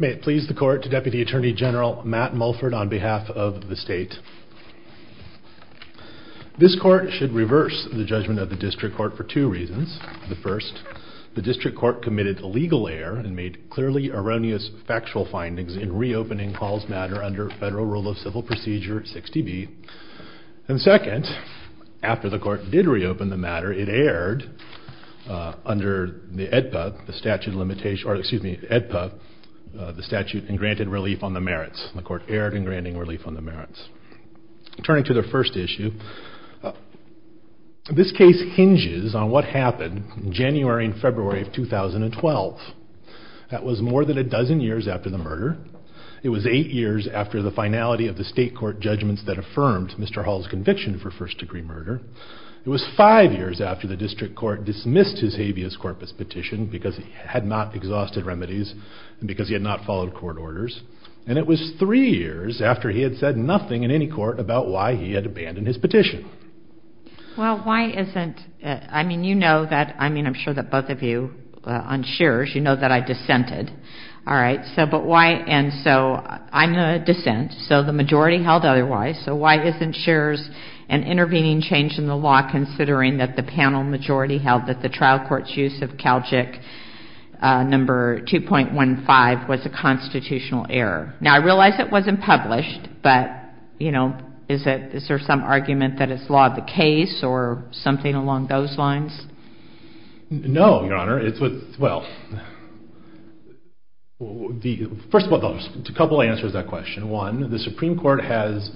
May it please the court to Deputy Attorney General Matt Mulford on behalf of the state. This court should reverse the judgment of the District Court for two reasons. The first, the District Court committed illegal error and made clearly erroneous factual findings in reopening Hall's matter under Federal Rule of Civil Procedure 60B. And second, after the court did reopen the matter, it erred under the EDPA, the statute limitation, or excuse me, EDPA, the statute in granted relief on the merits. The court erred in granting relief on the merits. Turning to the first issue, this case hinges on what happened January and February of 2012. That was more than a dozen years after the murder. It was eight years after the finality of the state court judgments that affirmed Mr. Hall's conviction for first degree murder. It was five years after the District Court dismissed his habeas corpus petition because he had not exhausted remedies and because he had not followed court orders. And it was three years after he had said nothing in any court about why he had abandoned his petition. Well, why isn't, I mean, you know that, I mean, I'm sure that both of you on Shearer's, you know that I dissented. All right, so but why, and so I'm a dissent, so the majority held otherwise, so why isn't Shearer's an intervening change in the law considering that the panel majority held that the trial court's use of Calgic number 2.15 was a constitutional error? Now, I realize it wasn't published, but, you know, is it, is there some argument that it's law of the case or something along those lines? No, Your Honor, it's with, well, the, first of all, a couple answers to that question. One, the Supreme Court has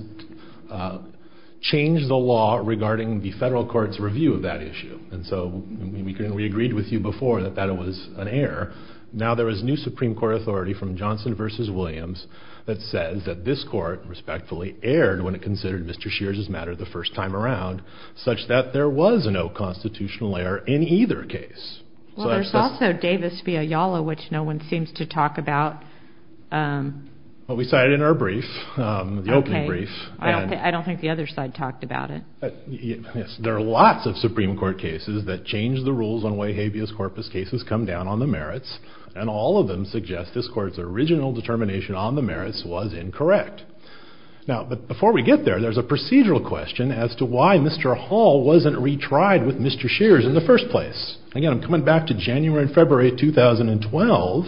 changed the law regarding the federal court's review of that issue, and so we agreed with you before that that was an error. Now, there is new Supreme Court authority from Johnson versus Williams that says that this court respectfully erred when it considered Mr. Shearer's matter the first time around such that there was no constitutional error in either case. Well, there's also Davis v. Ayala, which no one seems to talk about. Well, we cited in our brief, the opening brief. I don't think the other side talked about it. Yes, there are lots of Supreme Court cases that change the rules on why habeas corpus cases come down on the merits, and all of them suggest this court's original determination on the merits was incorrect. Now, but before we get there, there's a procedural question as to why Mr. Hall wasn't retried with Mr. Shearer's in the first place. Again, I'm coming back to January and February 2012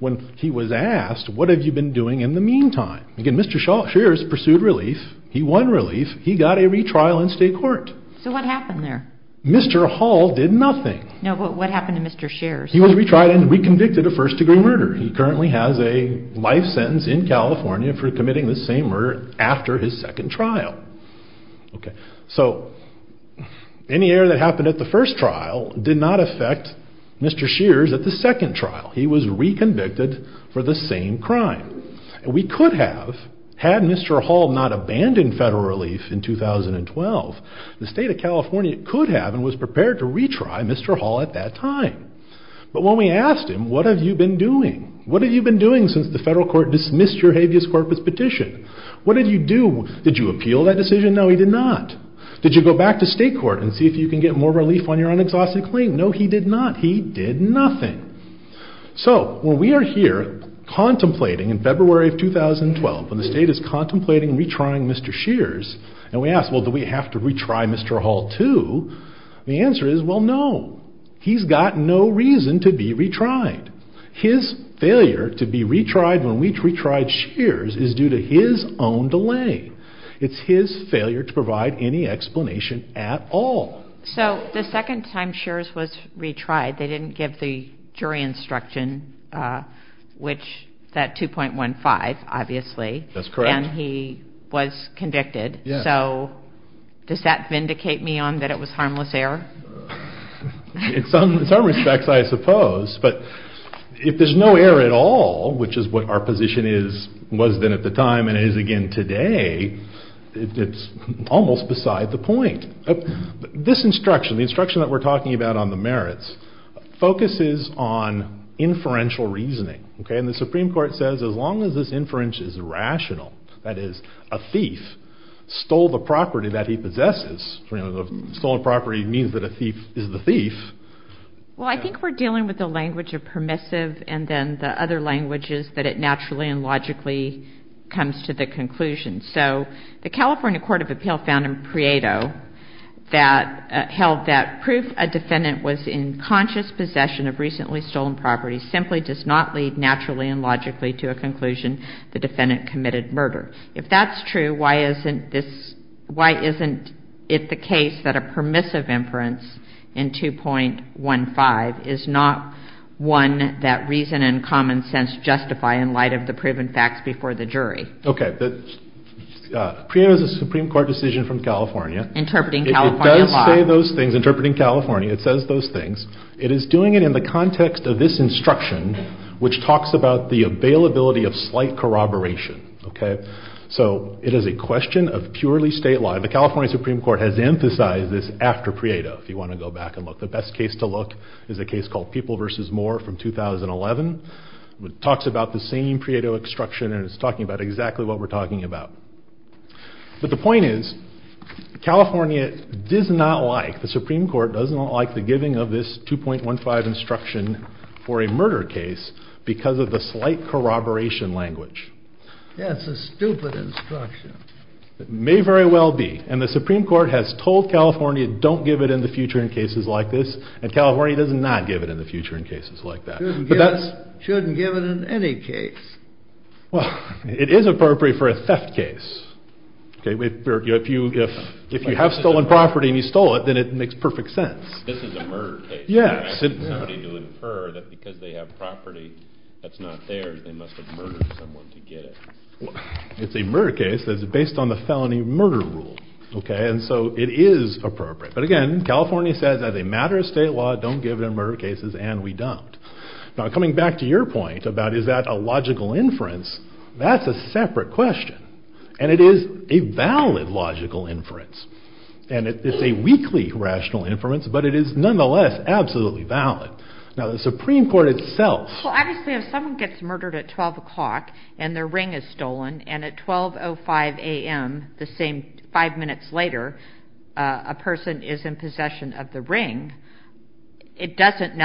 when he was asked, what have you been doing in the meantime? Again, Mr. Shearer's pursued relief. He won relief. He got a retrial in state court. So what happened there? Mr. Hall did nothing. No, but what happened to Mr. Shearer's? He was retried and reconvicted of first-degree murder. He currently has a life sentence in California for committing the same murder after his second trial. Okay. So, any error that happened at the first trial did not affect Mr. Shearer's at the second trial. He was reconvicted for the same crime. We could have, had Mr. Hall not abandoned federal relief in 2012, the state of California could have and was prepared to retry Mr. Hall at that time. But when we asked him, what have you been doing? What have you been doing since the federal court dismissed your habeas corpus petition? What did you do? Did you appeal that decision? No, he did not. Did you go back to state court and see if you can get more relief on your unexhausted claim? No, he did not. He did nothing. So, when we are here contemplating in February of 2012, when the state is contemplating retrying Mr. Shearer's and we ask, well, do we have to retry Mr. Hall too? The answer is, well, no. He's got no reason to be retried. His failure to be retried when we retried Shearer's is due to his own delay. It's his failure to provide any explanation at all. So, the second time Shearer's was retried, they didn't give the jury instruction, which that 2.15, obviously. That's correct. And he was convicted. Yes. So, does that vindicate me on that it was harmless error? In some respects, I suppose. But if there's no error at all, which is what our position is, was then at the time and is again today, it's almost beside the point. This instruction, the instruction that we're talking about on the merits, focuses on inferential reasoning. Okay? And the Supreme Court says as long as this inference is rational, that is a thief stole the property that he possesses. Stolen property means that a thief is the thief. Well, I think we're dealing with the language of permissive and then the other languages that it naturally and logically comes to the conclusion. So, the California Court of Appeal found in Prieto that held that proof a defendant was in conscious possession of recently stolen property simply does not lead naturally and logically to a conclusion the defendant committed murder. If that's true, why isn't this, why isn't it the case that a permissive inference in 2.15 is not one that reason and common sense justify in light of the proven facts before the jury? Okay. Prieto is a Supreme Court decision from California. Interpreting California law. It does say those things. Interpreting California. It says those things. It is doing it in the context of this instruction which talks about the availability of slight corroboration. Okay. So, it is a question of purely state law. The California Supreme Court has emphasized this after Prieto if you want to go back and look, the best case to look is a case called People versus Moore from 2011. It talks about the same Prieto instruction and it's talking about exactly what we're talking about. But the point is, California does not like, the Supreme Court does not like the giving of this 2.15 instruction for a murder case because of the slight corroboration language. That's a stupid instruction. It may very well be. And the Supreme Court has told California don't give it in the future in cases like this and California does not give it in the future in cases like that. But that's. Shouldn't give it in any case. Well, it is appropriate for a theft case. Okay. If you have stolen property and you stole it, then it makes perfect sense. This is a murder case. Yeah. I asked somebody to infer that because they have property that's not theirs, they must have murdered someone to get it. It's a murder case that's based on the felony murder rule. Okay. And so, it is appropriate. But again, California says as a matter of state law, don't give it in murder cases and we don't. Now, coming back to your point about is that a logical inference, that's a separate question. And it is a valid logical inference. And it's a weakly rational inference, but it is nonetheless absolutely valid. Now, the Supreme Court itself. Well, obviously, if someone gets murdered at 12 o'clock and their ring is stolen and at 12.05 a.m. the same five minutes later, a person is in possession of the ring, it doesn't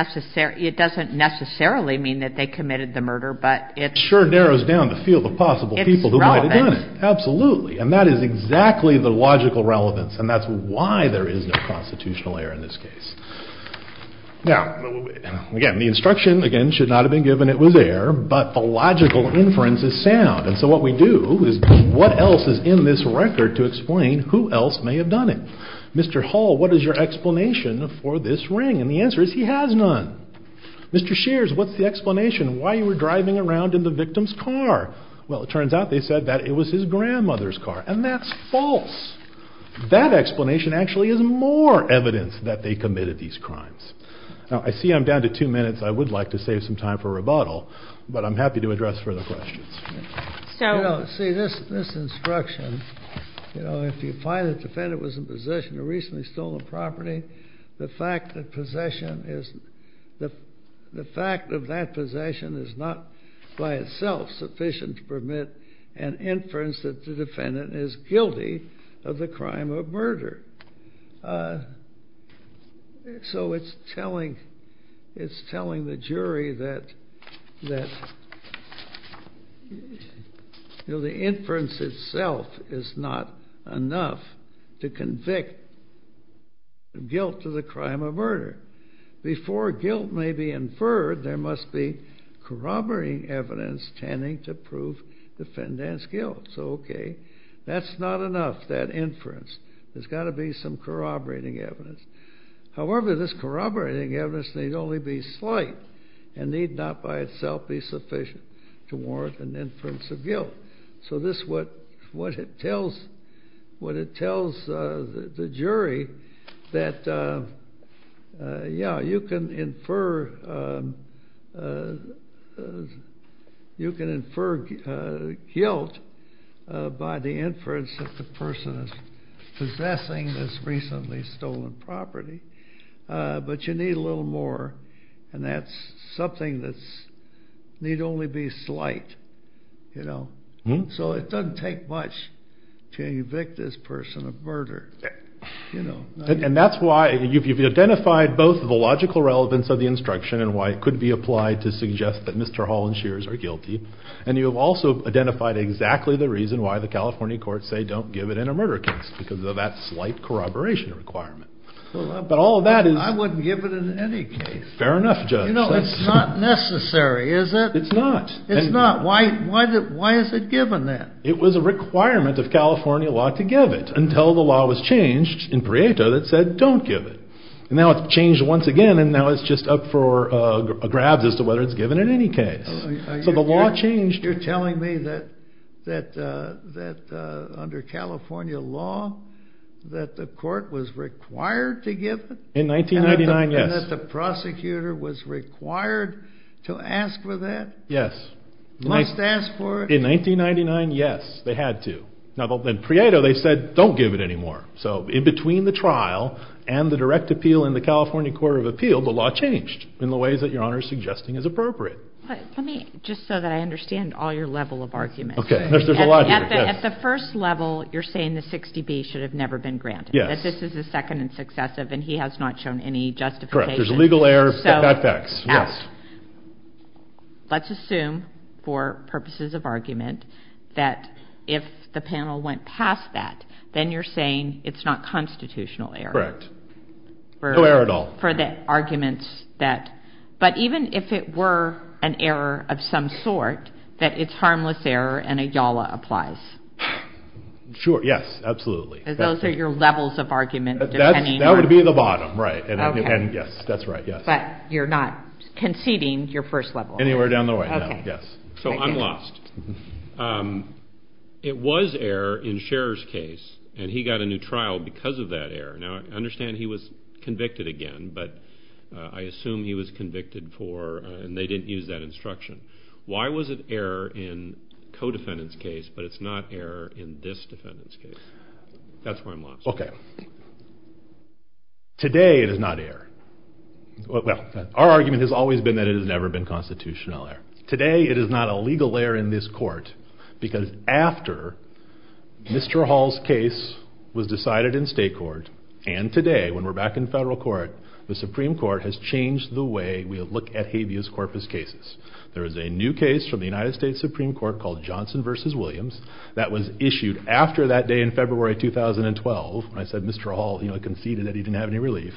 necessarily mean that they committed the murder, but it's. Sure narrows down the field of possible people who might have done it. It's relevant. Absolutely. And that is exactly the logical relevance. And that's why there is no constitutional error in this case. Now, again, the instruction, again, should not have been given. It was error, but the logical inference is sound. And so, what we do is what else is in this record to explain who else may have done it? Mr. Hall, what is your explanation for this ring? And the answer is he has none. Mr. Shears, what's the explanation? Why you were driving around in the victim's car? Well, it turns out they said that it was his grandmother's car. And that's false. That explanation actually is more evidence that they committed these crimes. Now, I see I'm down to two minutes. I would like to save some time for rebuttal, but I'm happy to address further questions. You know, see, this instruction, you know, if you find the defendant was in possession of a recently stolen property, the fact that possession is the fact of that possession is not by itself sufficient to permit an inference that the defendant is guilty of the crime of murder. So, it's telling the jury that, you know, the inference itself is not enough to convict guilt to the crime of murder. Before guilt may be inferred, there must be corroborating evidence tending to prove the defendant's guilt. So, okay, that's not enough, that inference. There's got to be some corroborating evidence. However, this corroborating evidence need only be slight and need not by itself be sufficient to warrant an inference of guilt. So, this is what it tells the jury that, yeah, you can infer guilt by the inference that the person is possessing this recently stolen property, but you need a little more. And that's something that's need only be slight, you know. So, it doesn't take much to convict this person of murder, you know. And that's why you've identified both the logical relevance of the instruction and why it could be applied to suggest that Mr. Hall and Shears are guilty. And you have also identified exactly the reason why the California courts say don't give it in a murder case because of that slight corroboration requirement. But all of that is. I wouldn't give it in any case. Fair enough, Judge. You know, it's not necessary, is it? It's not. It's not. Why is it given then? It was a requirement of California law to give it until the law was changed in Prieto that said don't give it. And now it's changed once again and now it's just up for grabs as to whether it's given in any case. So, the law changed. You're telling me that under California law that the court was required to give it? In 1999, yes. And that the prosecutor was required to ask for that? Yes. Must ask for it? In 1999, yes. They had to. Now, then Prieto, they said don't give it anymore. So, in between the trial and the direct appeal in the California Court of Appeal, the law changed in the ways that Your Honor is suggesting is appropriate. Let me, just so that I understand all your level of argument. Okay. At the first level, you're saying the 60B should have never been granted. Yes. Because this is the second and successive and he has not shown any justification. Correct. There's legal error, bad facts. Yes. Let's assume, for purposes of argument, that if the panel went past that, then you're saying it's not constitutional error. Correct. No error at all. For the arguments that, but even if it were an error of some sort, that it's harmless error and a YALA applies. Sure, yes, absolutely. Those are your levels of argument. That would be the bottom, right. And yes, that's right, yes. But you're not conceding your first level. Anywhere down the way, no, yes. So, I'm lost. It was error in Scherer's case and he got a new trial because of that error. Now, I understand he was convicted again, but I assume he was convicted for, and they didn't use that instruction. Why was it error in co-defendant's case, but it's not error in this defendant's case? That's where I'm lost. Okay. Today, it is not error. Well, our argument has always been that it has never been constitutional error. Today, it is not a legal error in this court because after Mr. Hall's case was decided in state court and today, when we're back in federal court, the Supreme Court has changed the way we look at habeas corpus cases. There is a new case from the United States Supreme Court called Johnson versus Williams that was issued after that day in February 2012. I said Mr. Hall, you know, conceded that he didn't have any relief.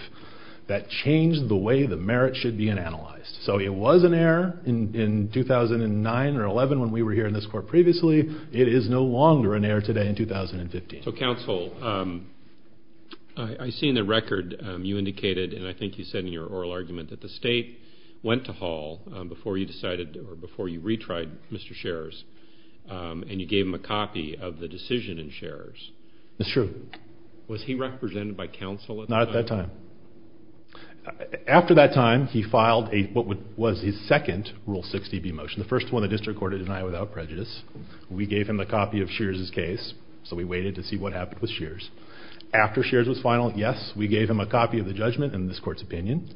That changed the way the merit should be analyzed. So, it was an error in 2009 or 11 when we were here in this court previously. It is no longer an error today in 2015. So, counsel, I've seen the record you indicated and I think you said in your oral argument that the state went to Hall before you decided or before you retried Mr. Shears and you gave him a copy of the decision in Shears. That's true. Was he represented by counsel at that time? Not at that time. After that time, he filed what was his second Rule 60B motion, the first one the district court had denied without prejudice. We gave him a copy of Shears' case. So, we waited to see what happened with Shears. After Shears was final, yes, we gave him a copy of the judgment in this court's opinion.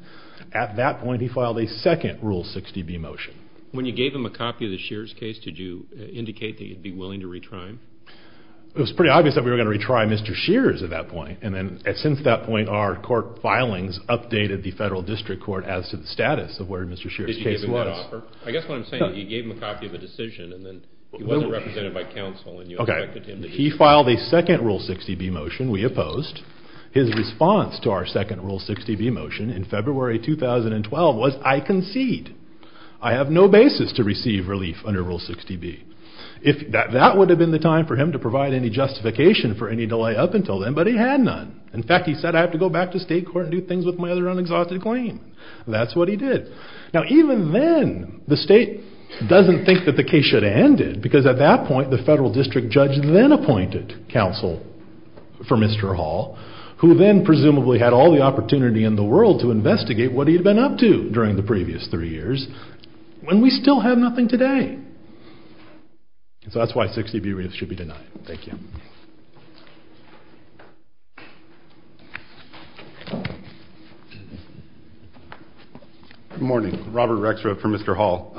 At that point, he filed a second Rule 60B motion. When you gave him a copy of the Shears' case, did you indicate that you'd be willing to retry him? It was pretty obvious that we were going to retry Mr. Shears at that point. And then, since that point, our court filings updated the federal district court as to the status of where Mr. Shears' case was. Did you give him that offer? I guess what I'm saying is you gave him a copy of the decision and then he wasn't represented by counsel and you expected him to do that. Okay. He filed a second Rule 60B motion. We opposed. His response to our second Rule 60B motion in February 2012 was, I concede. I have no basis to receive relief under Rule 60B. That would have been the time for him to provide any justification for any delay up until then, but he had none. In fact, he said, I have to go back to state court and do things with my other unexhausted claim. That's what he did. Now, even then, the state doesn't think that the case should have ended because, at that point, the federal district judge then appointed counsel for Mr. Hall who then presumably had all the opportunity in the world to investigate what he'd been up to during the previous three years when we still have nothing today. And so that's why 60B relief should be denied. Thank you. Good morning. Robert Rexroth for Mr. Hall.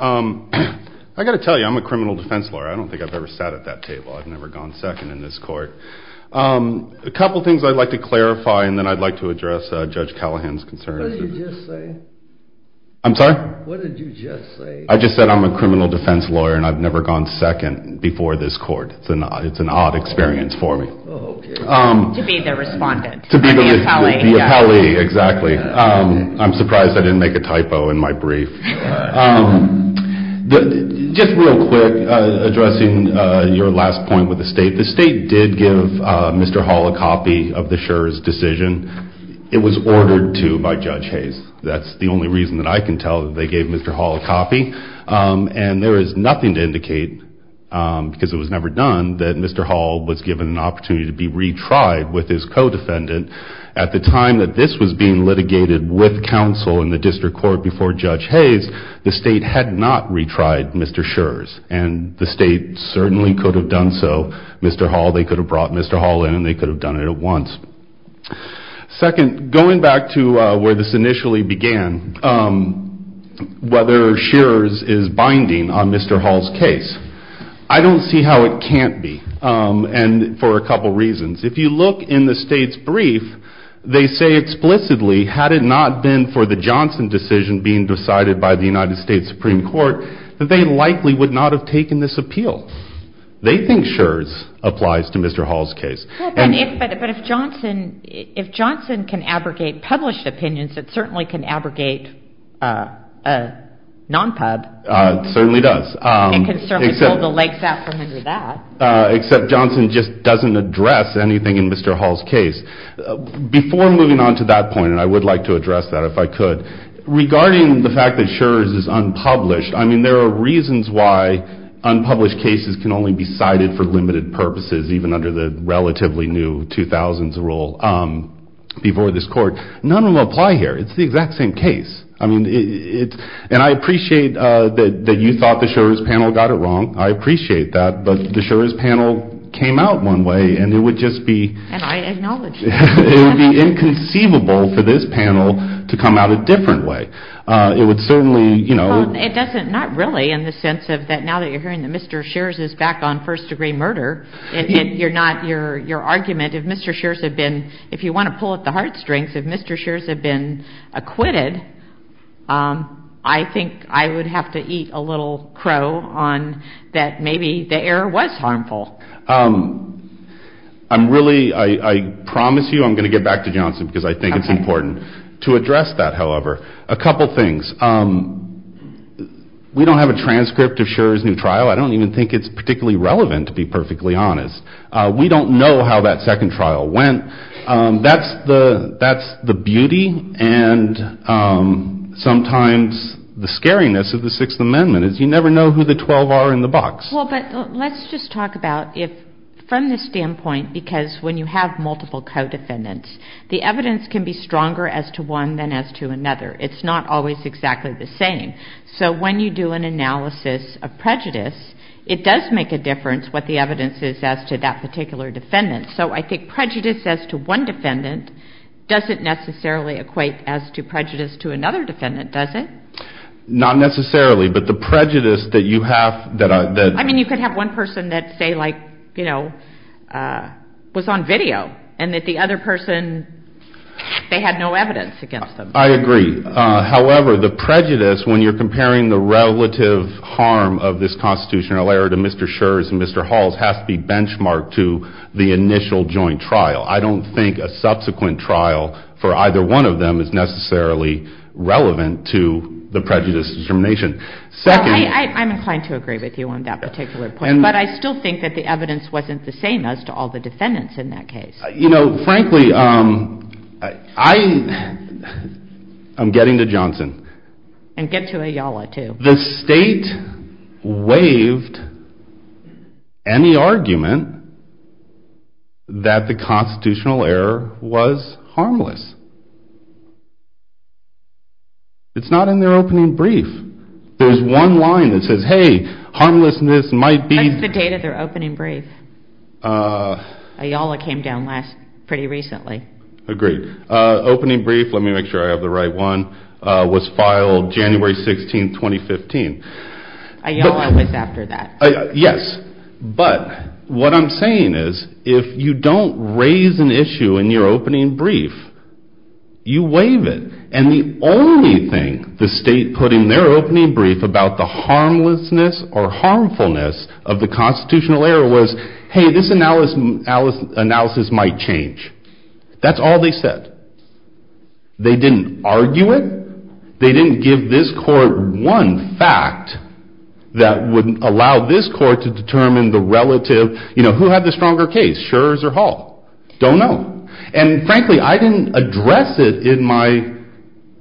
I've got to tell you, I'm a criminal defense lawyer. I don't think I've ever sat at that table. I've never gone second in this court. A couple things I'd like to clarify, and then I'd like to address Judge Callahan's concerns. What did you just say? I'm sorry? What did you just say? I just said I'm a criminal defense lawyer, and I've never gone second before this court. It's an odd experience for me. Oh, okay. To be the respondent. To be the appellee, exactly. I'm surprised I didn't make a typo in my brief. Just real quick, addressing your last point with the state. The state did give Mr. Hall a copy of the Scherz decision. It was ordered to by Judge Hayes. That's the only reason that I can tell that they gave Mr. Hall a copy. And there is nothing to indicate, because it was never done, that Mr. Hall was given an opportunity to be retried with his co-defendant. At the time that this was being litigated with counsel in the district court before Judge Hayes, the state had not retried Mr. Scherz. And the state certainly could have done so. Mr. Hall, they could have brought Mr. Hall in, and they could have done it at once. Second, going back to where this initially began, whether Scherz is binding on Mr. Hall's case. I don't see how it can't be, and for a couple reasons. If you look in the state's brief, they say explicitly, had it not been for the Johnson decision being decided by the United States Supreme Court, that they likely would not have taken this appeal. They think Scherz applies to Mr. Hall's case. But if Johnson can abrogate published opinions, it certainly can abrogate a non-pub. It certainly does. It can certainly pull the legs out from under that. Except Johnson just doesn't address anything in Mr. Hall's case. Before moving on to that point, and I would like to address that if I could, regarding the fact that Scherz is unpublished, I mean, there are reasons why unpublished cases can only be cited for limited purposes, even under the relatively new 2000s rule before this court. None of them apply here. It's the exact same case. I mean, it's, and I appreciate that you thought the Scherz panel got it wrong. I appreciate that, but the Scherz panel came out one way, and it would just be, it would be inconceivable for this panel to come out a different way. It would certainly, you know. Well, it doesn't, not really in the sense of that now that you're hearing that Mr. Scherz is back on first degree murder, and you're not, your argument, if Mr. Scherz had been, if you want to pull at the heartstrings, if Mr. Scherz had been acquitted, I think I would have to eat a little crow on that maybe the error was harmful. I'm really, I promise you I'm going to get back to Johnson because I think it's important to address that, however. A couple things. We don't have a transcript of Scherz's new trial. I don't even think it's particularly relevant to be perfectly honest. We don't know how that second trial went. That's the, that's the beauty and sometimes the scariness of the Sixth Amendment is you never know who the 12 are in the box. Well, but let's just talk about if, from the standpoint, because when you have multiple co-defendants, the evidence can be stronger as to one than as to another. It's not always exactly the same. So when you do an analysis of prejudice, it does make a difference what the evidence is as to that particular defendant. So I think prejudice as to one defendant doesn't necessarily equate as to prejudice to another defendant, does it? Not necessarily, but the prejudice that you have that. I mean, you could have one person that say like, you know, was on video and that the other person, they had no evidence against them. I agree. However, the prejudice, when you're comparing the relative harm of this constitutional error to Mr. Scherz and Mr. Halls has to be benchmarked to the initial joint trial. I don't think a subsequent trial for either one of them is necessarily relevant to the prejudice determination. Second. I'm inclined to agree with you on that particular point, but I still think that the evidence wasn't the same as to all the defendants in that case. You know, frankly, I'm getting to Johnson. And get to Ayala, too. The state waived any argument that the constitutional error was harmless. It's not in their opening brief. There's one line that says, hey, harmlessness might be. That's the date of their opening brief. Ayala came down last, pretty recently. Agreed. Opening brief, let me make sure I have the right one, was filed January 16, 2015. Ayala was after that. Yes. But what I'm saying is, if you don't raise an issue in your opening brief, you waive it. And the only thing the state put in their opening brief about the harmlessness or harmfulness of the constitutional error was, hey, this analysis might change. That's all they said. They didn't argue it. They didn't give this court one fact that would allow this court to determine the relative, you know, who had the stronger case, Schurz or Hall? Don't know. And frankly, I didn't address it in my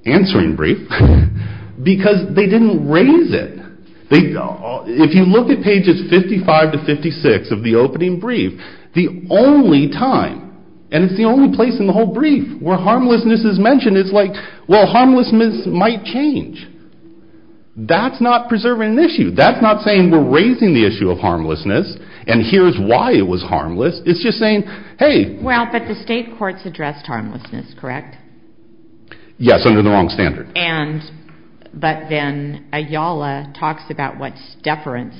answering brief because they didn't raise it. They, if you look at pages 55 to 56 of the opening brief, the only time, and it's the only place in the whole brief where harmlessness is mentioned, it's like, well, harmlessness might change. That's not preserving an issue. That's not saying we're raising the issue of harmlessness, and here's why it was harmless. It's just saying, hey. Well, but the state courts addressed harmlessness, correct? Yes, under the wrong standard. And, but then Ayala talks about what's deference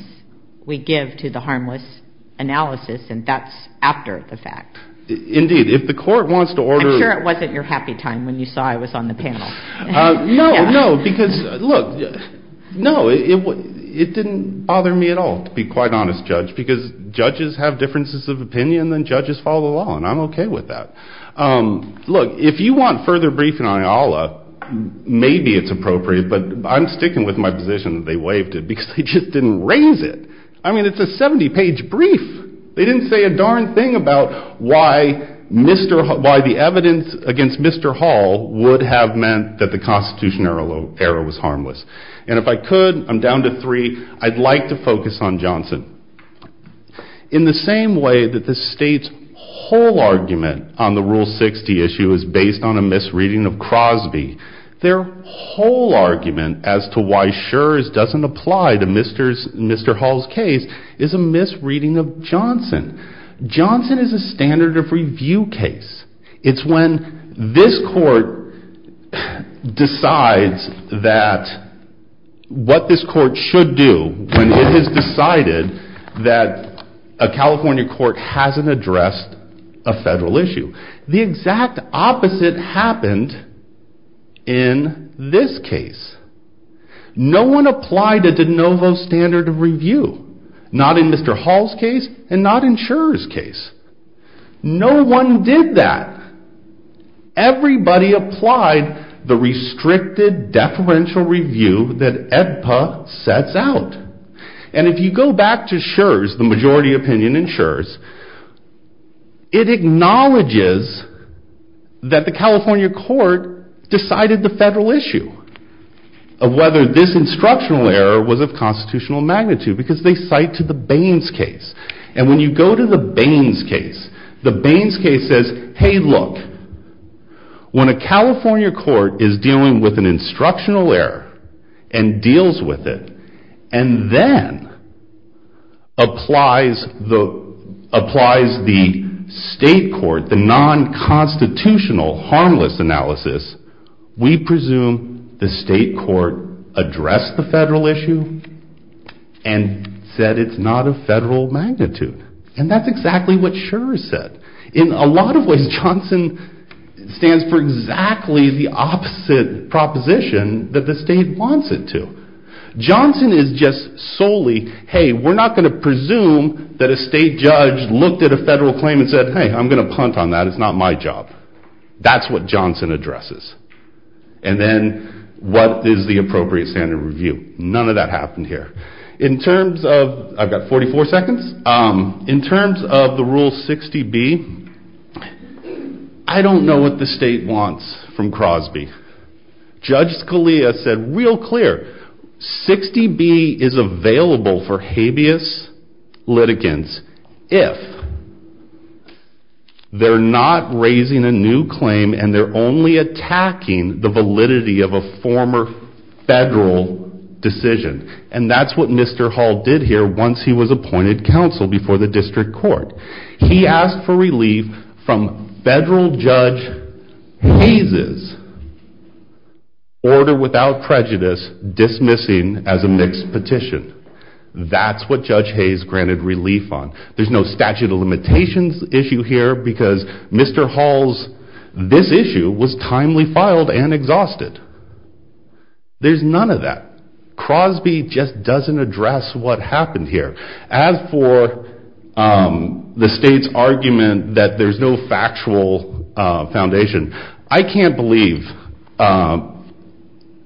we give to the harmless analysis, and that's after the fact. Indeed. If the court wants to order. I'm sure it wasn't your happy time when you saw I was on the panel. No, no, because, look, no, it didn't bother me at all, to be quite honest, Judge, because judges have differences of opinion, and judges follow the law, and I'm okay with that. Look, if you want further briefing on Ayala, maybe it's appropriate, but I'm sticking with my position that they waived it because they just didn't raise it. I mean, it's a 70-page brief. They didn't say a darn thing about why Mr., why the evidence against Mr. Hall would have meant that the constitutional error was harmless, and if I could, I'm down to three, I'd like to focus on Johnson. In the same way that the state's whole argument on the Rule 60 issue is based on a misreading of Crosby, their whole argument as to why Schurz doesn't apply to Mr. Hall's case is a misreading of Johnson. Johnson is a standard of review case. It's when this court decides that what this court should do when it has decided that a California court hasn't addressed a federal issue. The exact opposite happened in this case. No one applied a de novo standard of review, not in Mr. Hall's case and not in Schurz's case. No one did that. Everybody applied the restricted deferential review that AEDPA sets out, and if you go back to Schurz, the majority opinion in Schurz, it acknowledges that the California court decided the federal issue of whether this instructional error was of constitutional magnitude because they cite to the Baines case, and when you go to the Baines case, the Baines case says, hey, look, when a California court is dealing with an instructional error and deals with it, and then applies the state court the non-constitutional harmless analysis, we presume the state court addressed the federal issue and said it's not of federal magnitude, and that's exactly what Schurz said. In a lot of ways, Johnson stands for exactly the opposite proposition that the state wants it to. Johnson is just solely, hey, we're not going to presume that a state judge looked at a federal claim and said, hey, I'm going to punt on that. It's not my job. That's what Johnson addresses, and then what is the appropriate standard of review? None of that happened here. In terms of, I've got 44 seconds. In terms of the Rule 60B, I don't know what the state wants from Crosby. Judge Scalia said real clear, 60B is available for habeas litigants if they're not raising a new claim and they're only attacking the validity of a former federal decision, and that's what Mr. Hall did here once he was appointed counsel before the district court. He asked for relief from federal Judge Hayes' order without prejudice dismissing as a mixed petition. That's what Judge Hayes granted relief on. There's no statute of limitations issue here because Mr. Hall's, this issue, was timely filed and exhausted. There's none of that. Crosby just doesn't address what happened here. As for the state's argument that there's no factual foundation, I can't believe,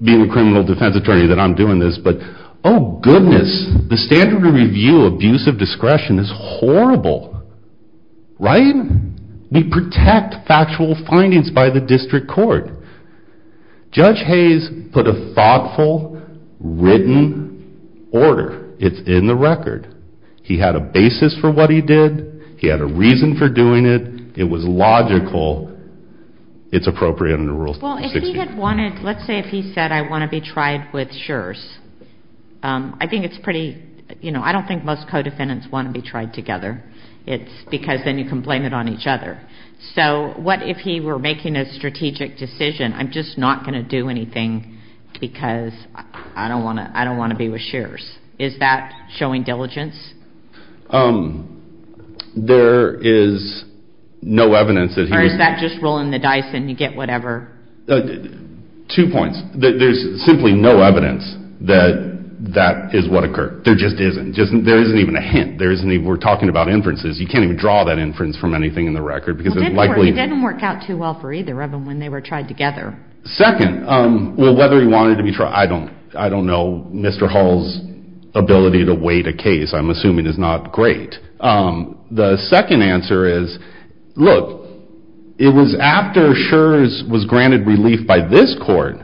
being a criminal defense attorney, that I'm doing this, but oh goodness, the standard of review abuse of discretion is horrible, right? We protect factual findings by the district court. Judge Hayes put a thoughtful, written order. It's in the record. He had a basis for what he did. He had a reason for doing it. It was logical. It's appropriate under Rule 60. Well, if he had wanted, let's say if he said I want to be tried with Schurz, I think it's pretty, you know, I don't think most co-defendants want to be tried together. It's because then you can blame it on each other. So what if he were making a strategic decision, I'm just not going to do anything because I don't want to be with Schurz. Is that showing diligence? There is no evidence that he was. Or is that just rolling the dice and you get whatever? Two points. There's simply no evidence that that is what occurred. There just isn't. There isn't even a hint. There isn't even, we're talking about inferences. You can't even draw that inference from anything in the record because it likely. It didn't work out too well for either of them when they were tried together. Second, well, whether he wanted to be tried, I don't know. Mr. Hall's ability to wait a case, I'm assuming, is not great. The second answer is, look, it was after Schurz was granted relief by this court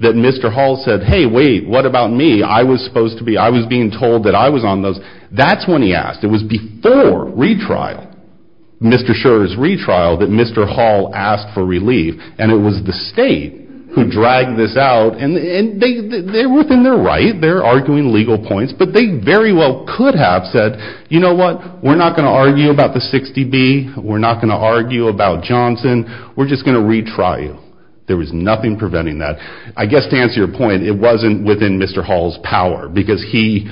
that Mr. Hall said, hey, wait, what about me? I was supposed to be, I was being told that I was on those. That's when he asked. It was before retrial, Mr. Schurz's retrial, that Mr. Hall asked for relief. And it was the state who dragged this out. And they're within their right. They're arguing legal points. But they very well could have said, you know what? We're not going to argue about the 60B. We're not going to argue about Johnson. We're just going to retrial. There was nothing preventing that. I guess to answer your point, it wasn't within Mr. Hall's power because he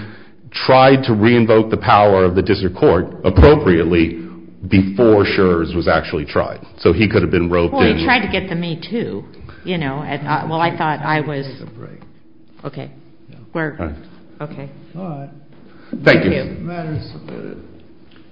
tried to re-invoke the power of the district court appropriately before Schurz was actually tried. So he could have been roped in. He tried to get the me too, you know. Well, I thought I was, okay. We're, okay. All right. Thank you. The matter is submitted.